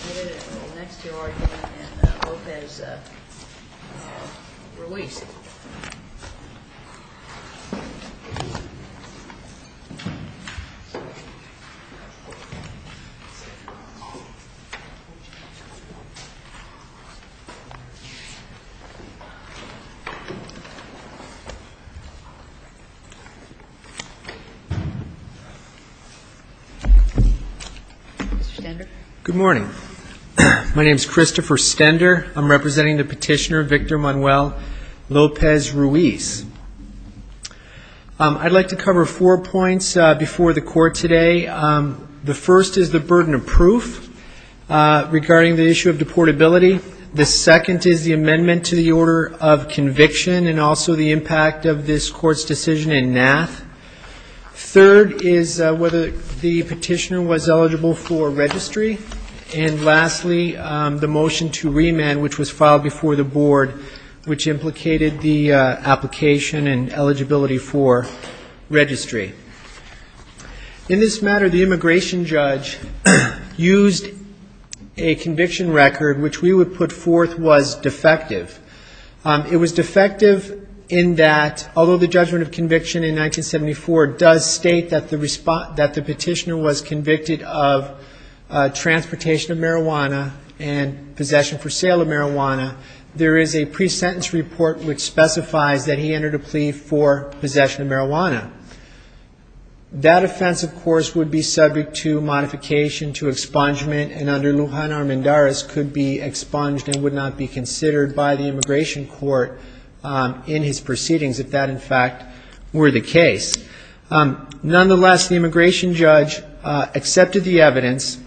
Mr. Stender? Good morning, my name is Christopher Stender, I'm representing the petitioner Victor Manuel Lopez-Ruiz. I'd like to cover four points before the court today. The first is the burden of proof regarding the issue of deportability. The second is the amendment to the order of conviction and also the impact of this court's decision in NAAF. Third is whether the petitioner was eligible for registry. And lastly, the motion to remand, which was filed before the board, which implicated the application and eligibility for registry. In this matter, the immigration judge used a conviction record which we would put forth was defective. It was defective in that, although the judgment of conviction in 1974 does state that the petitioner was convicted of transportation of marijuana and possession for sale of marijuana, there is a pre-sentence report which specifies that he entered a plea for possession of marijuana. That offense, of course, would be subject to modification, to expungement, and under Lujan Armendariz could be expunged and would not be considered by the immigration court in his proceedings if that, in fact, were the case. Nonetheless, the immigration judge accepted the evidence,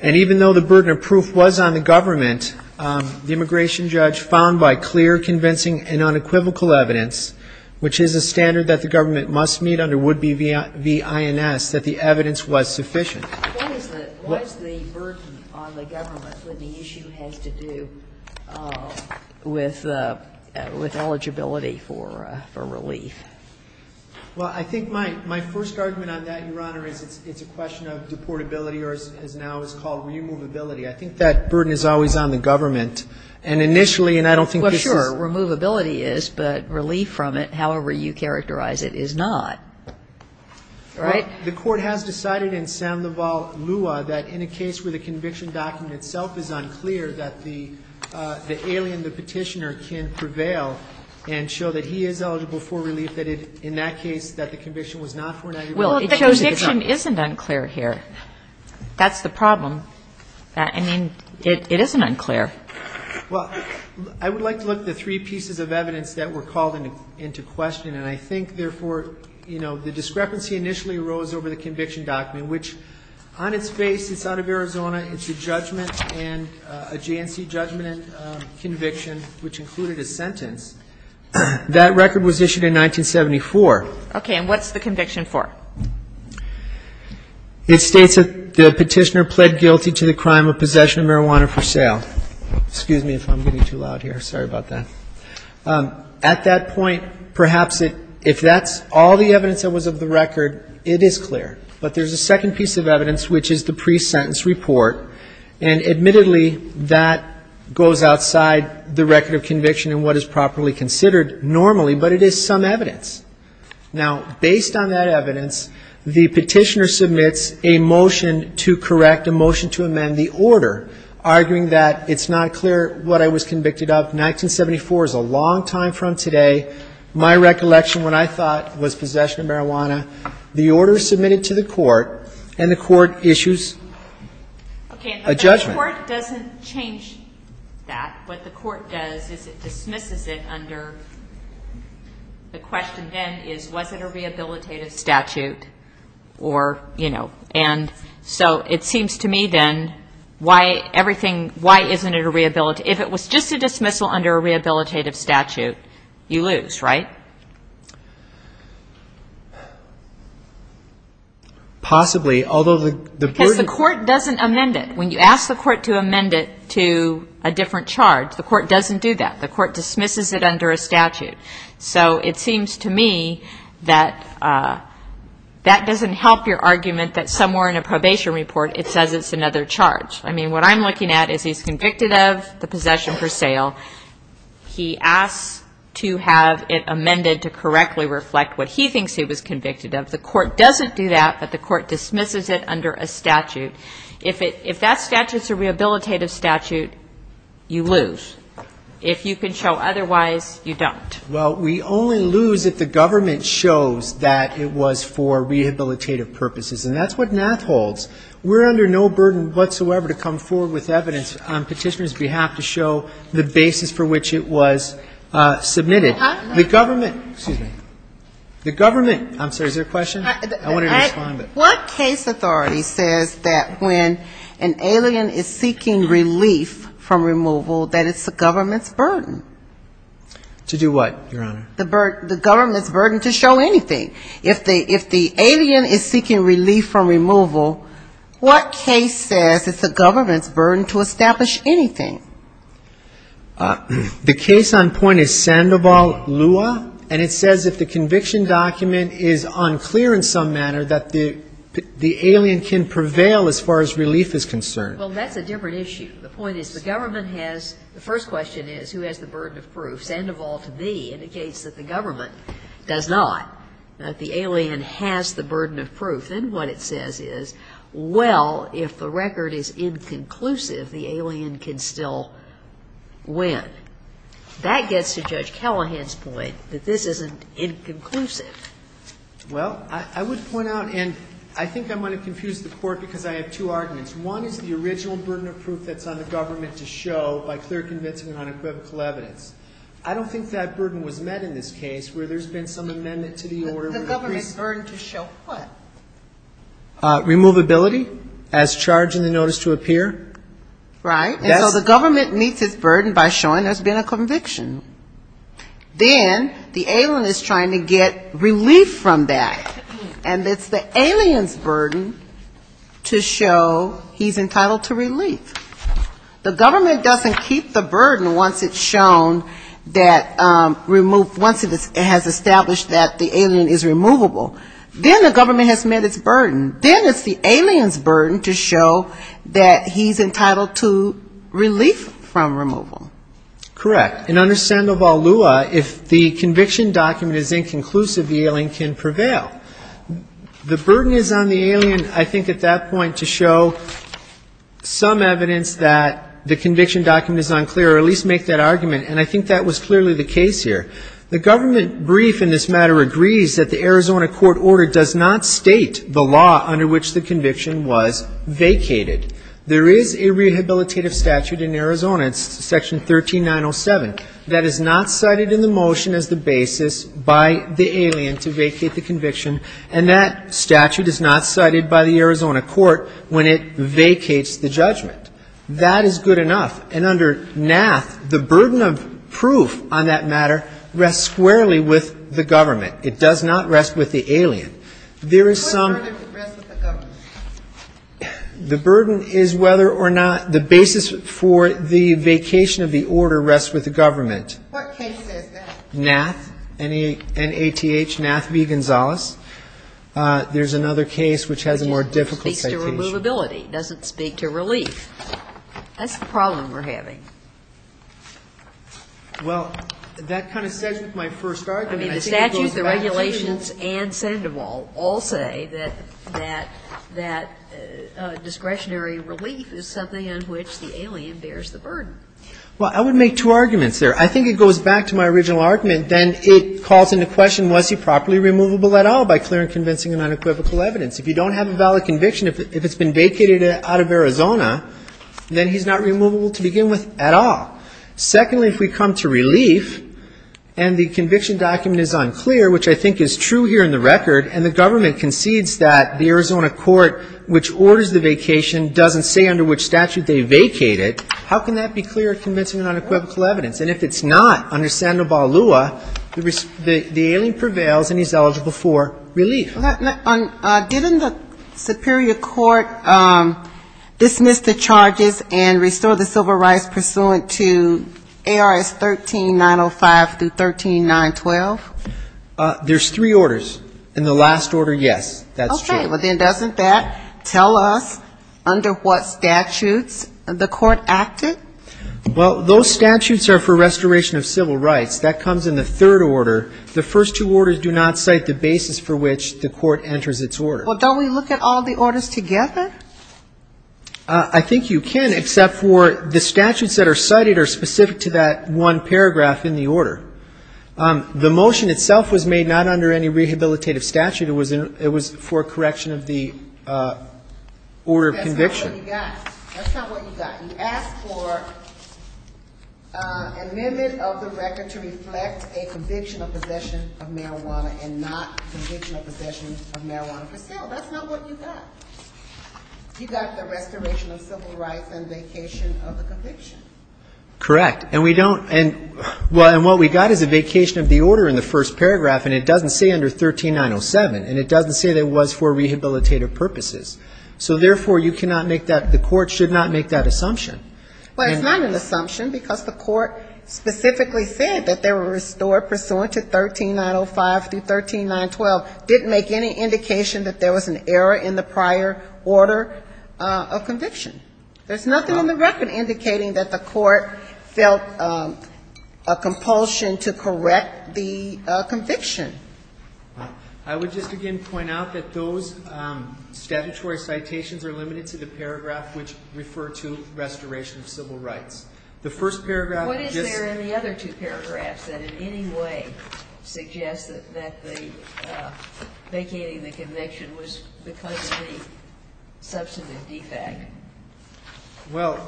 and even though the burden of proof was on the government, the immigration judge found by clear, convincing, and unequivocal evidence, which is a standard that the government must meet under would-be V.I.N.S., that the evidence was sufficient. Sotomayor, what is the burden on the government when the issue has to do with eligibility for relief? Well, I think my first argument on that, Your Honor, is it's a question of deportability or as now it's called removability. I think that burden is always on the government. And initially, and I don't think this is the case. Well, sure, removability is, but relief from it, however you characterize it, is not. Right? The Court has decided in Sanlival, Lua, that in a case where the conviction document itself is unclear, that the alien, the petitioner, can prevail and show that he is eligible for relief, that in that case, that the conviction was not for an aggravated offense. Well, the conviction isn't unclear here. That's the problem. I mean, it isn't unclear. Well, I would like to look at the three pieces of evidence that were called into question. And I think, therefore, you know, the discrepancy initially arose over the conviction document, which on its face, it's out of Arizona. It's a judgment and a JNC judgment and conviction, which included a sentence. That record was issued in 1974. Okay. And what's the conviction for? It states that the petitioner pled guilty to the crime of possession of marijuana for sale. Excuse me if I'm getting too loud here. Sorry about that. At that point, perhaps if that's all the evidence that was of the record, it is clear. But there's a second piece of evidence, which is the pre-sentence report. And admittedly, that goes outside the record of conviction and what is properly considered normally, but it is some evidence. Now, based on that evidence, the petitioner submits a motion to correct, a motion to amend the order, arguing that it's not clear what I was convicted of. 1974 is a long time from today. My recollection, when I thought, was possession of marijuana. The order is submitted to the court, and the court issues a judgment. Okay, but the court doesn't change that. What the court does is it dismisses it under the question then is, was it a rehabilitative statute or, you know. And so, it seems to me then, why everything, why isn't it a rehabilitative statute? If it was just a dismissal under a rehabilitative statute, you lose, right? Possibly, although the court doesn't amend it. When you ask the court to amend it to a different charge, the court doesn't do that. The court dismisses it under a statute. So, it seems to me that that doesn't help your argument that somewhere in a probation report, it says it's another charge. I mean, what I'm looking at is he's convicted of the possession for sale. He asks to have it amended to correctly reflect what he thinks he was convicted of. The court doesn't do that, but the court dismisses it under a statute. If that statute's a rehabilitative statute, you lose. If you can show otherwise, you don't. Well, we only lose if the government shows that it was for rehabilitative purposes, and that's what NAAF holds. We're under no burden whatsoever to come forward with evidence on petitioner's behalf to show the basis for which it was submitted. The government, excuse me, the government, I'm sorry, is there a question? I want to respond, but. What case authority says that when an alien is seeking relief from removal, that it's the government's burden? To do what, Your Honor? The government's burden to show anything. If the alien is seeking relief from removal, what case says it's the government's burden to establish anything? The case on point is Sandoval-Lua, and it says if the conviction document is unclear in some manner, that the alien can prevail as far as relief is concerned. Well, that's a different issue. The point is the government has, the first question is who has the burden of proof? Sandoval-Lua indicates that the government does not, that the alien has the burden of proof, and what it says is, well, if the record is inconclusive, the alien can still win. That gets to Judge Callahan's point that this isn't inconclusive. Well, I would point out, and I think I'm going to confuse the Court because I have two arguments. One is the original burden of proof that's on the government to show by clear convincing and unequivocal evidence. I don't think that burden was met in this case where there's been some amendment to the order. The government's burden to show what? Removability as charged in the notice to appear? Right. And so the government meets its burden by showing there's been a conviction. To show he's entitled to relief. The government doesn't keep the burden once it's shown that, once it has established that the alien is removable. Then the government has met its burden. Then it's the alien's burden to show that he's entitled to relief from removal. Correct. And understand, Sandoval-Lua, if the conviction document is inconclusive, the alien can prevail. The burden is on the alien, I think, at that point to show some evidence that the conviction document is unclear, or at least make that argument. And I think that was clearly the case here. The government brief in this matter agrees that the Arizona court order does not state the law under which the conviction was vacated. There is a rehabilitative statute in Arizona, it's section 13907, that is not cited in the motion as the basis by the alien to vacate the conviction. And that statute is not cited by the Arizona court when it vacates the judgment. That is good enough. And under NAF, the burden of proof on that matter rests squarely with the government. It does not rest with the alien. There is some... What burden rests with the government? The burden is whether or not the basis for the vacation of the order rests with the government. What case is that? NAF, N-A-T-H, NAF v. Gonzales. There's another case which has a more difficult citation. It just speaks to removability. It doesn't speak to relief. That's the problem we're having. Well, that kind of says my first argument. I mean, the statute, the regulations, and Sandoval all say that discretionary relief is something on which the alien bears the burden. Well, I would make two arguments there. I think it goes back to my original argument. Then it calls into question, was he properly removable at all by clear and convincing and unequivocal evidence? If you don't have a valid conviction, if it's been vacated out of Arizona, then he's not removable to begin with at all. Secondly, if we come to relief and the conviction document is unclear, which I think is true here in the record, and the government concedes that the Arizona court which orders the vacation doesn't say under which statute they vacated, how can that be clear and convincing and unequivocal evidence? And if it's not under Sandoval Lua, the alien prevails and he's eligible for relief. Okay. Didn't the superior court dismiss the charges and restore the civil rights pursuant to ARS 13-905 through 13-912? There's three orders. In the last order, yes, that's true. Okay. Well, then doesn't that tell us under what statutes the court acted? Well, those statutes are for restoration of civil rights. That comes in the third order. The first two orders do not cite the basis for which the court enters its order. Well, don't we look at all the orders together? I think you can, except for the statutes that are cited are specific to that one paragraph in the order. The motion itself was made not under any rehabilitative statute. It was for correction of the order of conviction. That's not what you got. That's not what you got. You asked for amendment of the record to reflect a conviction of possession of marijuana and not conviction of possession of marijuana for sale. That's not what you got. You got the restoration of civil rights and vacation of the conviction. Correct. And what we got is a vacation of the order in the first paragraph and it doesn't say under 13-907 and it doesn't say that it was for rehabilitative purposes. So, therefore, you cannot make that, the court should not make that assumption. Well, it's not an assumption because the court specifically said that they were restored pursuant to 13-905 through 13-912. Didn't make any indication that there was an error in the prior order of conviction. There's nothing in the record indicating that the court felt a compulsion to correct the conviction. I would just again point out that those statutory citations are limited to the paragraph which refer to restoration of civil rights. The first paragraph. What is there in the other two paragraphs that in any way suggest that the vacating the conviction was because of the substantive defect? Well,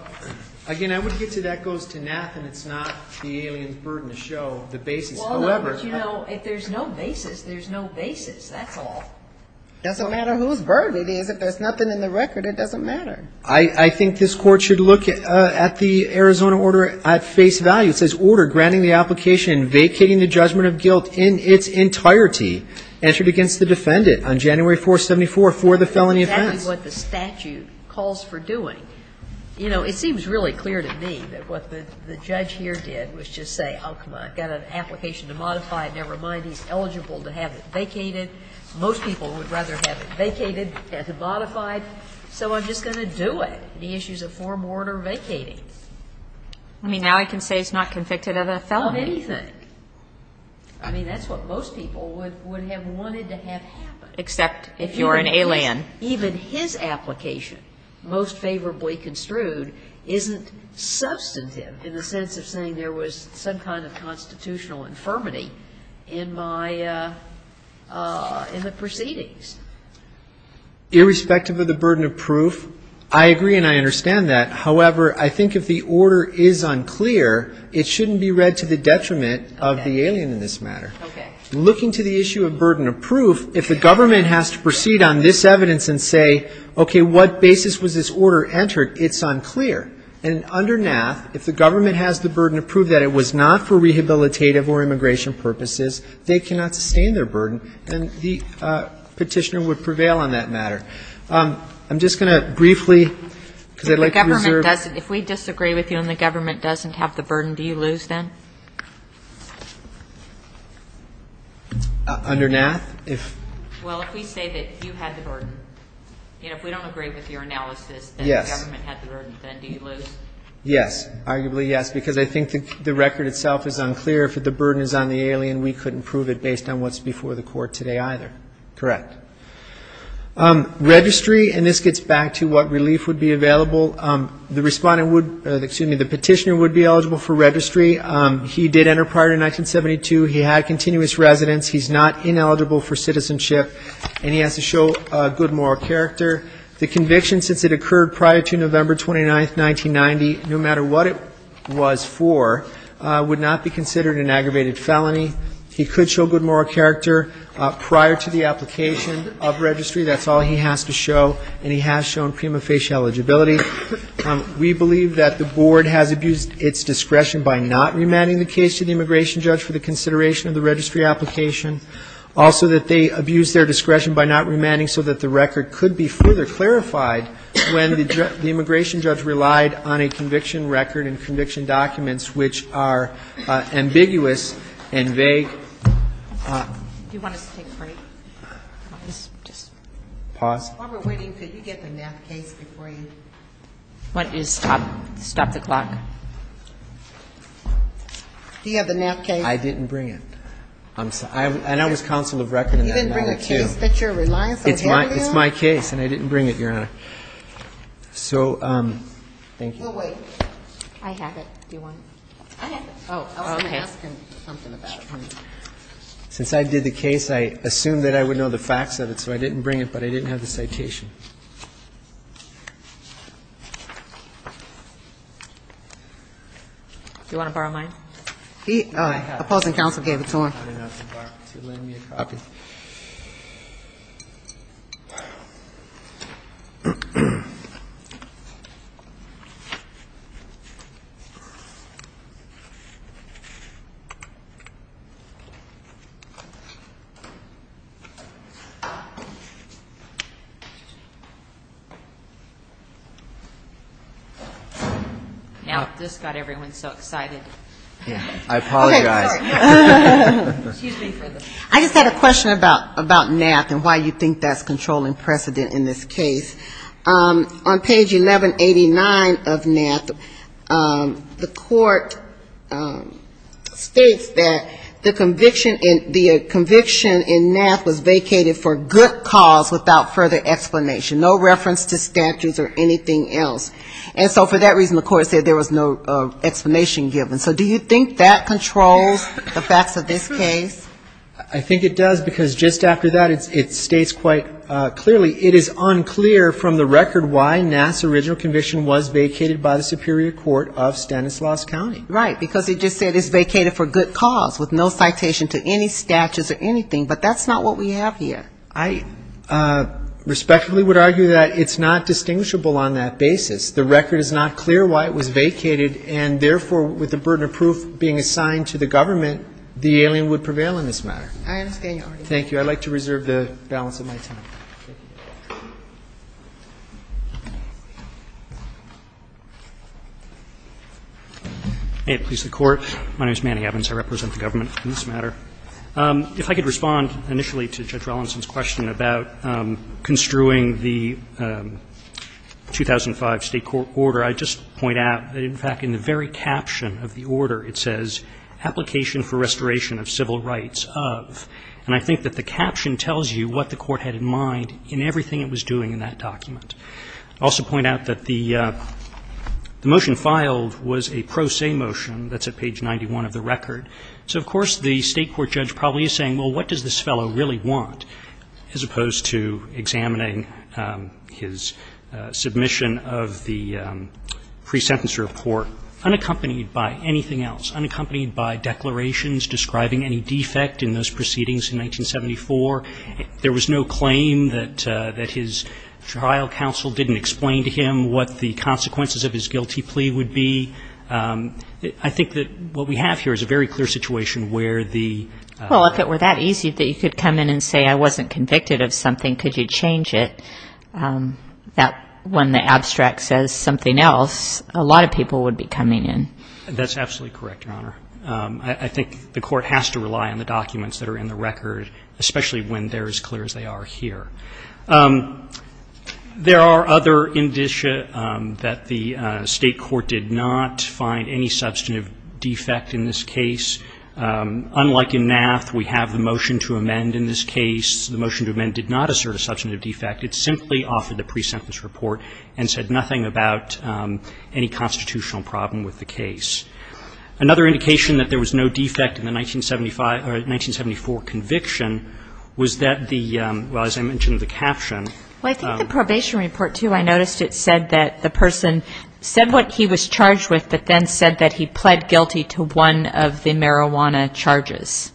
again, I would get to that goes to Nath and it's not the alien's burden to show the basis. If there's no basis, there's no basis. That's all. Doesn't matter whose burden it is. If there's nothing in the record, it doesn't matter. I think this court should look at the Arizona order at face value. It says order granting the application vacating the judgment of guilt in its entirety entered against the defendant on January 4, 74 for the felony offense. What the statute calls for doing. You know, it seems really clear to me that what the judge here did was just say, oh, I've got an application to modify. Never mind. He's eligible to have it vacated. Most people would rather have it vacated than to modify. So I'm just going to do it. The issue is a form of order vacating. I mean, now I can say it's not convicted of a felony. Of anything. I mean, that's what most people would have wanted to have happen. Except if you're an alien. Even his application, most favorably construed, isn't substantive in the sense of saying there was some kind of constitutional infirmity in my – in the proceedings. Irrespective of the burden of proof, I agree and I understand that. However, I think if the order is unclear, it shouldn't be read to the detriment of the alien in this matter. Okay. Looking to the issue of burden of proof, if the government has to proceed on this evidence and say, okay, what basis was this order entered, it's unclear. And under NAF, if the government has the burden to prove that it was not for rehabilitative or immigration purposes, they cannot sustain their burden, then the Petitioner would prevail on that matter. I'm just going to briefly, because I'd like to reserve – If the government doesn't – if we disagree with you and the government doesn't have the burden, do you lose then? Under NAF, if – Well, if we say that you had the burden. Then do you lose? Yes. Arguably, yes. Because I think the record itself is unclear. If the burden is on the alien, we couldn't prove it based on what's before the Court today either. Correct. Registry, and this gets back to what relief would be available, the Respondent would – excuse me, the Petitioner would be eligible for registry. He did enter prior to 1972. He had continuous residence. He's not ineligible for citizenship. And he has to show good moral character. The conviction, since it occurred prior to November 29, 1990, no matter what it was for, would not be considered an aggravated felony. He could show good moral character prior to the application of registry. That's all he has to show. And he has shown prima facie eligibility. We believe that the Board has abused its discretion by not remanding the case to the immigration judge for the consideration of the registry application. Also that they abused their discretion by not remanding so that the record could be further clarified when the immigration judge relied on a conviction record and conviction documents, which are ambiguous and vague. Do you want us to take a break? Just pause. While we're waiting, could you get the NAF case before you? Why don't you stop the clock? Do you have the NAF case? I didn't bring it. And I was counsel of record in 1992. You didn't bring a case that you're reliant on him now? It's my case, and I didn't bring it, Your Honor. So thank you. You'll wait. I have it. Do you want it? I have it. Oh, okay. I was going to ask him something about it. Since I did the case, I assumed that I would know the facts of it, so I didn't bring it, but I didn't have the citation. Do you want to borrow mine? Opposing counsel gave it to him. I didn't have the bark to lend me a copy. Yeah, this got everyone so excited. I apologize. I just had a question about NAF and why you think that's controlling precedent in this case. On page 1189 of NAF, the court states that the conviction in NAF was vacated for good cause without further explanation, no reference to statutes or anything else. And so for that reason, the court said there was no explanation given. So do you think that controls the facts of this case? I think it does, because just after that, it states quite clearly, it is unclear from the record why NAF's original conviction was vacated by the Superior Court of Stanislaus County. Right, because it just said it's vacated for good cause with no citation to any statutes or anything, but that's not what we have here. I respectfully would argue that it's not distinguishable on that basis. The record is not clear why it was vacated, and therefore, with the burden of proof being assigned to the government, the alien would prevail in this matter. I understand your argument. Thank you. I'd like to reserve the balance of my time. May it please the Court. My name is Manny Evans. I represent the government on this matter. If I could respond initially to Judge Rollinson's question about construing the 2005 State court order, I'd just point out that, in fact, in the very caption of the order, it says, application for restoration of civil rights of. And I think that the caption tells you what the Court had in mind in everything it was doing in that document. I'd also point out that the motion filed was a pro se motion that's at page 91 of the record. So, of course, the State court judge probably is saying, well, what does this fellow really want, as opposed to examining his submission of the pre-sentence report unaccompanied by anything else, unaccompanied by declarations describing any defect in those proceedings in 1974? There was no claim that his trial counsel didn't explain to him what the consequences of his guilty plea would be. I think that what we have here is a very clear situation where the. Well, if it were that easy that you could come in and say I wasn't convicted of something, could you change it? That when the abstract says something else, a lot of people would be coming in. That's absolutely correct, Your Honor. I think the Court has to rely on the documents that are in the record, especially when they're as clear as they are here. There are other indicia that the State court did not find any substantive defect in this case. Unlike in NAFT, we have the motion to amend in this case. The motion to amend did not assert a substantive defect. It simply offered the pre-sentence report and said nothing about any constitutional problem with the case. Another indication that there was no defect in the 1975 or 1974 conviction was that the, well, as I mentioned, the caption. Well, I think the probation report, too, I noticed it said that the person said what he was charged with but then said that he pled guilty to one of the marijuana charges.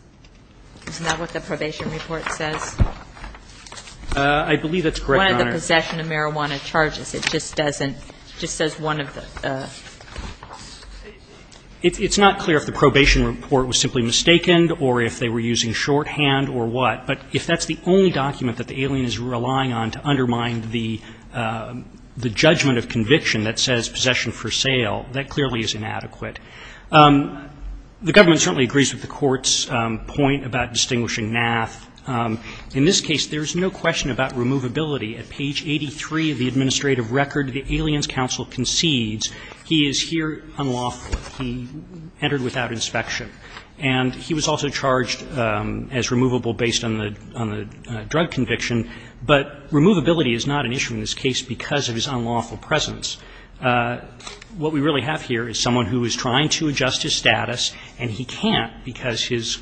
Isn't that what the probation report says? I believe that's correct, Your Honor. One of the possession of marijuana charges. It just doesn't, it just says one of the. It's not clear if the probation report was simply mistaken or if they were using shorthand or what. But if that's the only document that the alien is relying on to undermine the judgment of conviction that says possession for sale, that clearly is inadequate. The government certainly agrees with the Court's point about distinguishing NAFT. In this case, there is no question about removability. At page 83 of the administrative record, the Aliens Counsel concedes he is here unlawfully. He entered without inspection. And he was also charged as removable based on the drug conviction. But removability is not an issue in this case because of his unlawful presence. What we really have here is someone who is trying to adjust his status, and he can't because his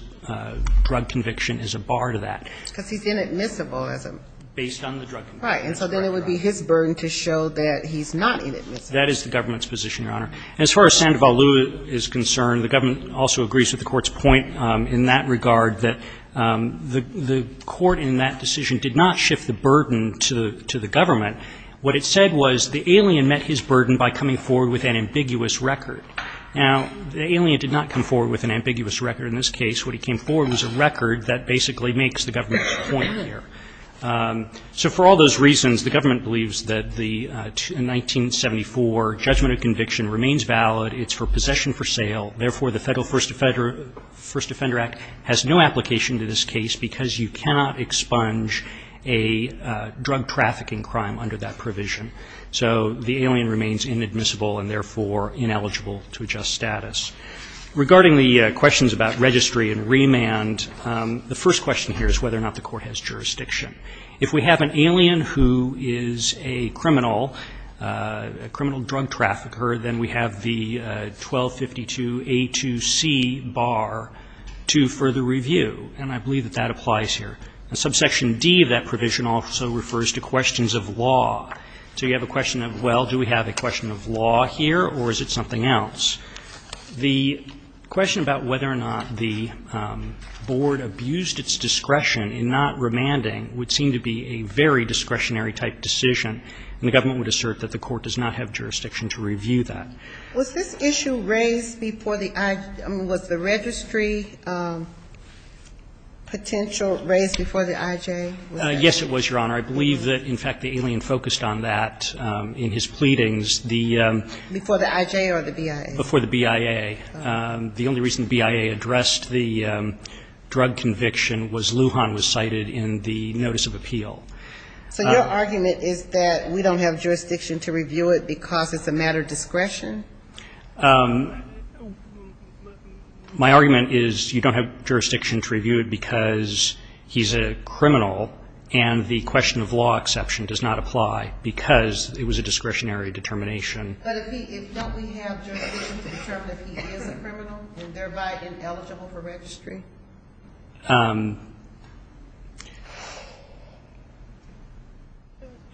drug conviction is a bar to that. Because he's inadmissible as a. Based on the drug conviction. Right. And so then it would be his burden to show that he's not inadmissible. That is the government's position, Your Honor. As far as Sandoval Lew is concerned, the government also agrees with the Court's shift the burden to the government. What it said was the alien met his burden by coming forward with an ambiguous record. Now, the alien did not come forward with an ambiguous record in this case. What he came forward with was a record that basically makes the government's point here. So for all those reasons, the government believes that the 1974 judgment of conviction remains valid. It's for possession for sale. Therefore, the Federal First Offender Act has no application to this case because you cannot expunge a drug trafficking crime under that provision. So the alien remains inadmissible and therefore ineligible to adjust status. Regarding the questions about registry and remand, the first question here is whether or not the Court has jurisdiction. If we have an alien who is a criminal, a criminal drug trafficker, then we have the 1252A2C bar to further review. And I believe that that applies here. Now, subsection D of that provision also refers to questions of law. So you have a question of, well, do we have a question of law here or is it something else? The question about whether or not the Board abused its discretion in not remanding would seem to be a very discretionary-type decision. And the government would assert that the Court does not have jurisdiction to review that. Was this issue raised before the IJ? Was the registry potential raised before the IJ? Yes, it was, Your Honor. I believe that, in fact, the alien focused on that in his pleadings. Before the IJ or the BIA? Before the BIA. The only reason the BIA addressed the drug conviction was Lujan was cited in the notice of appeal. So your argument is that we don't have jurisdiction to review it because it's a matter of discretion? My argument is you don't have jurisdiction to review it because he's a criminal and the question of law exception does not apply because it was a discretionary determination. But don't we have jurisdiction to determine if he is a criminal and thereby ineligible for registry?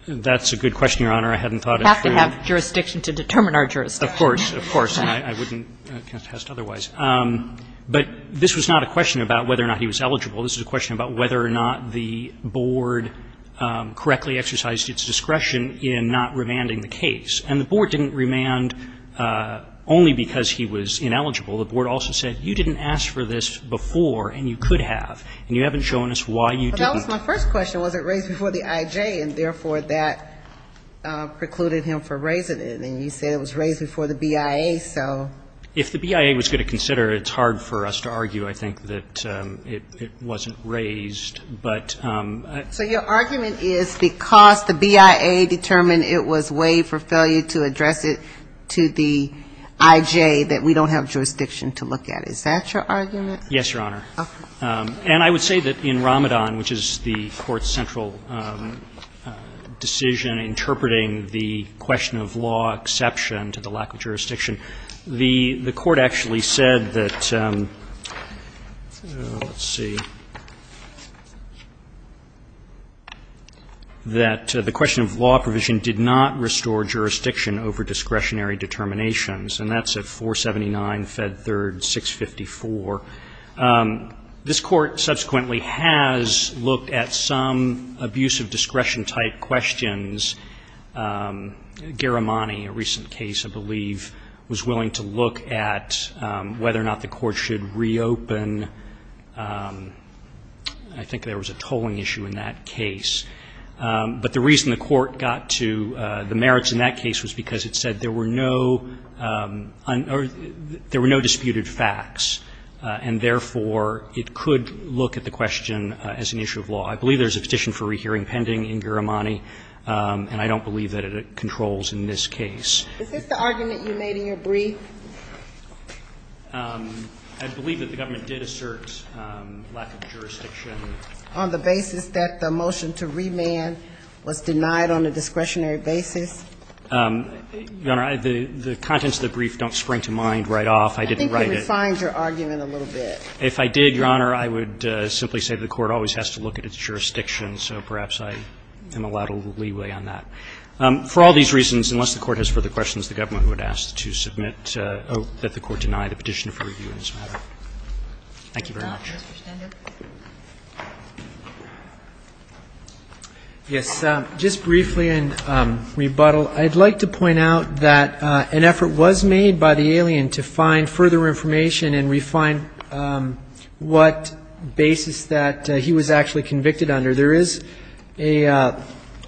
That's a good question, Your Honor. I hadn't thought it through. We don't have jurisdiction to determine our jurisdiction. Of course, of course. And I wouldn't contest otherwise. But this was not a question about whether or not he was eligible. This was a question about whether or not the Board correctly exercised its discretion in not remanding the case. And the Board didn't remand only because he was ineligible. The Board also said you didn't ask for this before and you could have and you haven't shown us why you didn't. But that was my first question. I'm trying to figure out why it wasn't raised before the IJ and therefore, that precluded him from raising it. And you said it was raised before the BIA, so. If the BIA was going to consider it, it's hard for us to argue, I think, that it wasn't raised. But ---- So your argument is, because the BIA determined it was waived for failure to address it to the IJ, that we don't have jurisdiction to look at? Is that your argument? Yes, Your Honor. And I would say that in Ramadan, which is the court session, I think you have to have a central decision interpreting the question of law exception to the lack of jurisdiction. The court actually said that, let's see, that the question of law provision did not restore jurisdiction over discretionary determinations. And that's at 479, Fed 3rd, 654. This Court subsequently has looked at some abuse of discretion-type questions. Garamani, a recent case, I believe, was willing to look at whether or not the Court should reopen. I think there was a tolling issue in that case. But the reason the Court got to the merits in that case was because it said there were no ---- there were no disputed facts. And therefore, it could look at the question as an issue of law. I believe there's a petition for rehearing pending in Garamani, and I don't believe that it controls in this case. Is this the argument you made in your brief? I believe that the government did assert lack of jurisdiction. On the basis that the motion to remand was denied on a discretionary basis? Your Honor, the contents of the brief don't spring to mind right off. I didn't write it. I didn't find your argument a little bit. If I did, Your Honor, I would simply say the Court always has to look at its jurisdiction, so perhaps I am allowed a little leeway on that. For all these reasons, unless the Court has further questions, the government would ask to submit that the Court deny the petition for review in this matter. Thank you very much. Mr. Stender? Yes. Just briefly in rebuttal, I'd like to point out that an effort was made by the alien to find further information and refine what basis that he was actually convicted under. There is a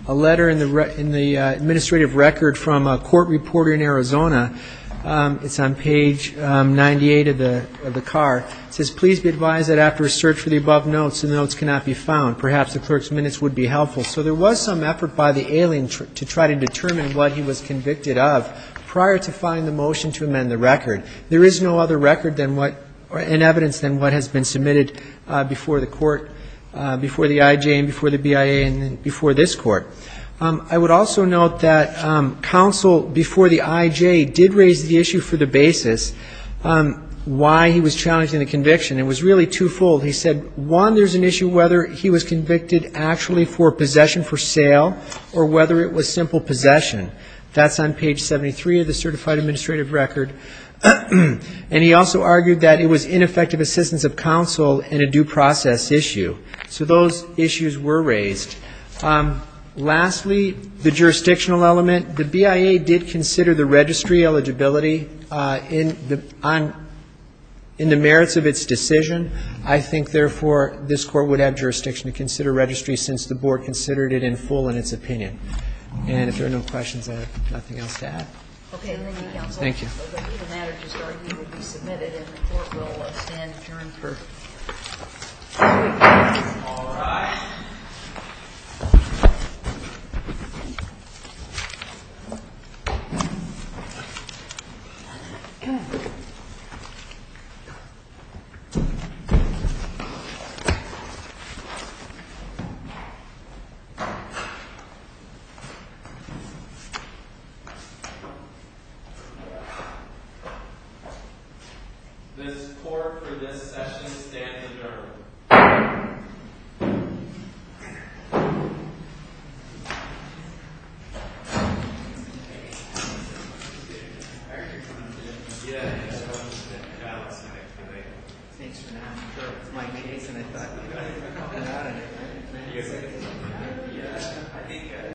letter in the administrative record from a court reporter in Arizona. It's on page 98 of the car. It says, Please be advised that after a search for the above notes, the notes cannot be found. Perhaps the clerk's minutes would be helpful. So there was some effort by the alien to try to determine what he was convicted of prior to finding the motion to amend the record. There is no other record and evidence than what has been submitted before the court, before the I.J. and before the BIA and before this Court. I would also note that counsel before the I.J. did raise the issue for the basis why he was challenging the conviction. It was really two-fold. He said, one, there's an issue whether he was convicted actually for possession for sale or whether it was simple possession. That's on page 73 of the certified administrative record. And he also argued that it was ineffective assistance of counsel and a due process issue. So those issues were raised. Lastly, the jurisdictional element. The BIA did consider the registry eligibility in the merits of its decision. I think, therefore, this Court would have jurisdiction to consider registry since the Board considered it in full in its opinion. And if there are no questions, I have nothing else to add. OK, thank you, counsel. Thank you. The matter to start would be submitted and the Court will stand adjourned for three minutes. All right. This Court for this session stands adjourned.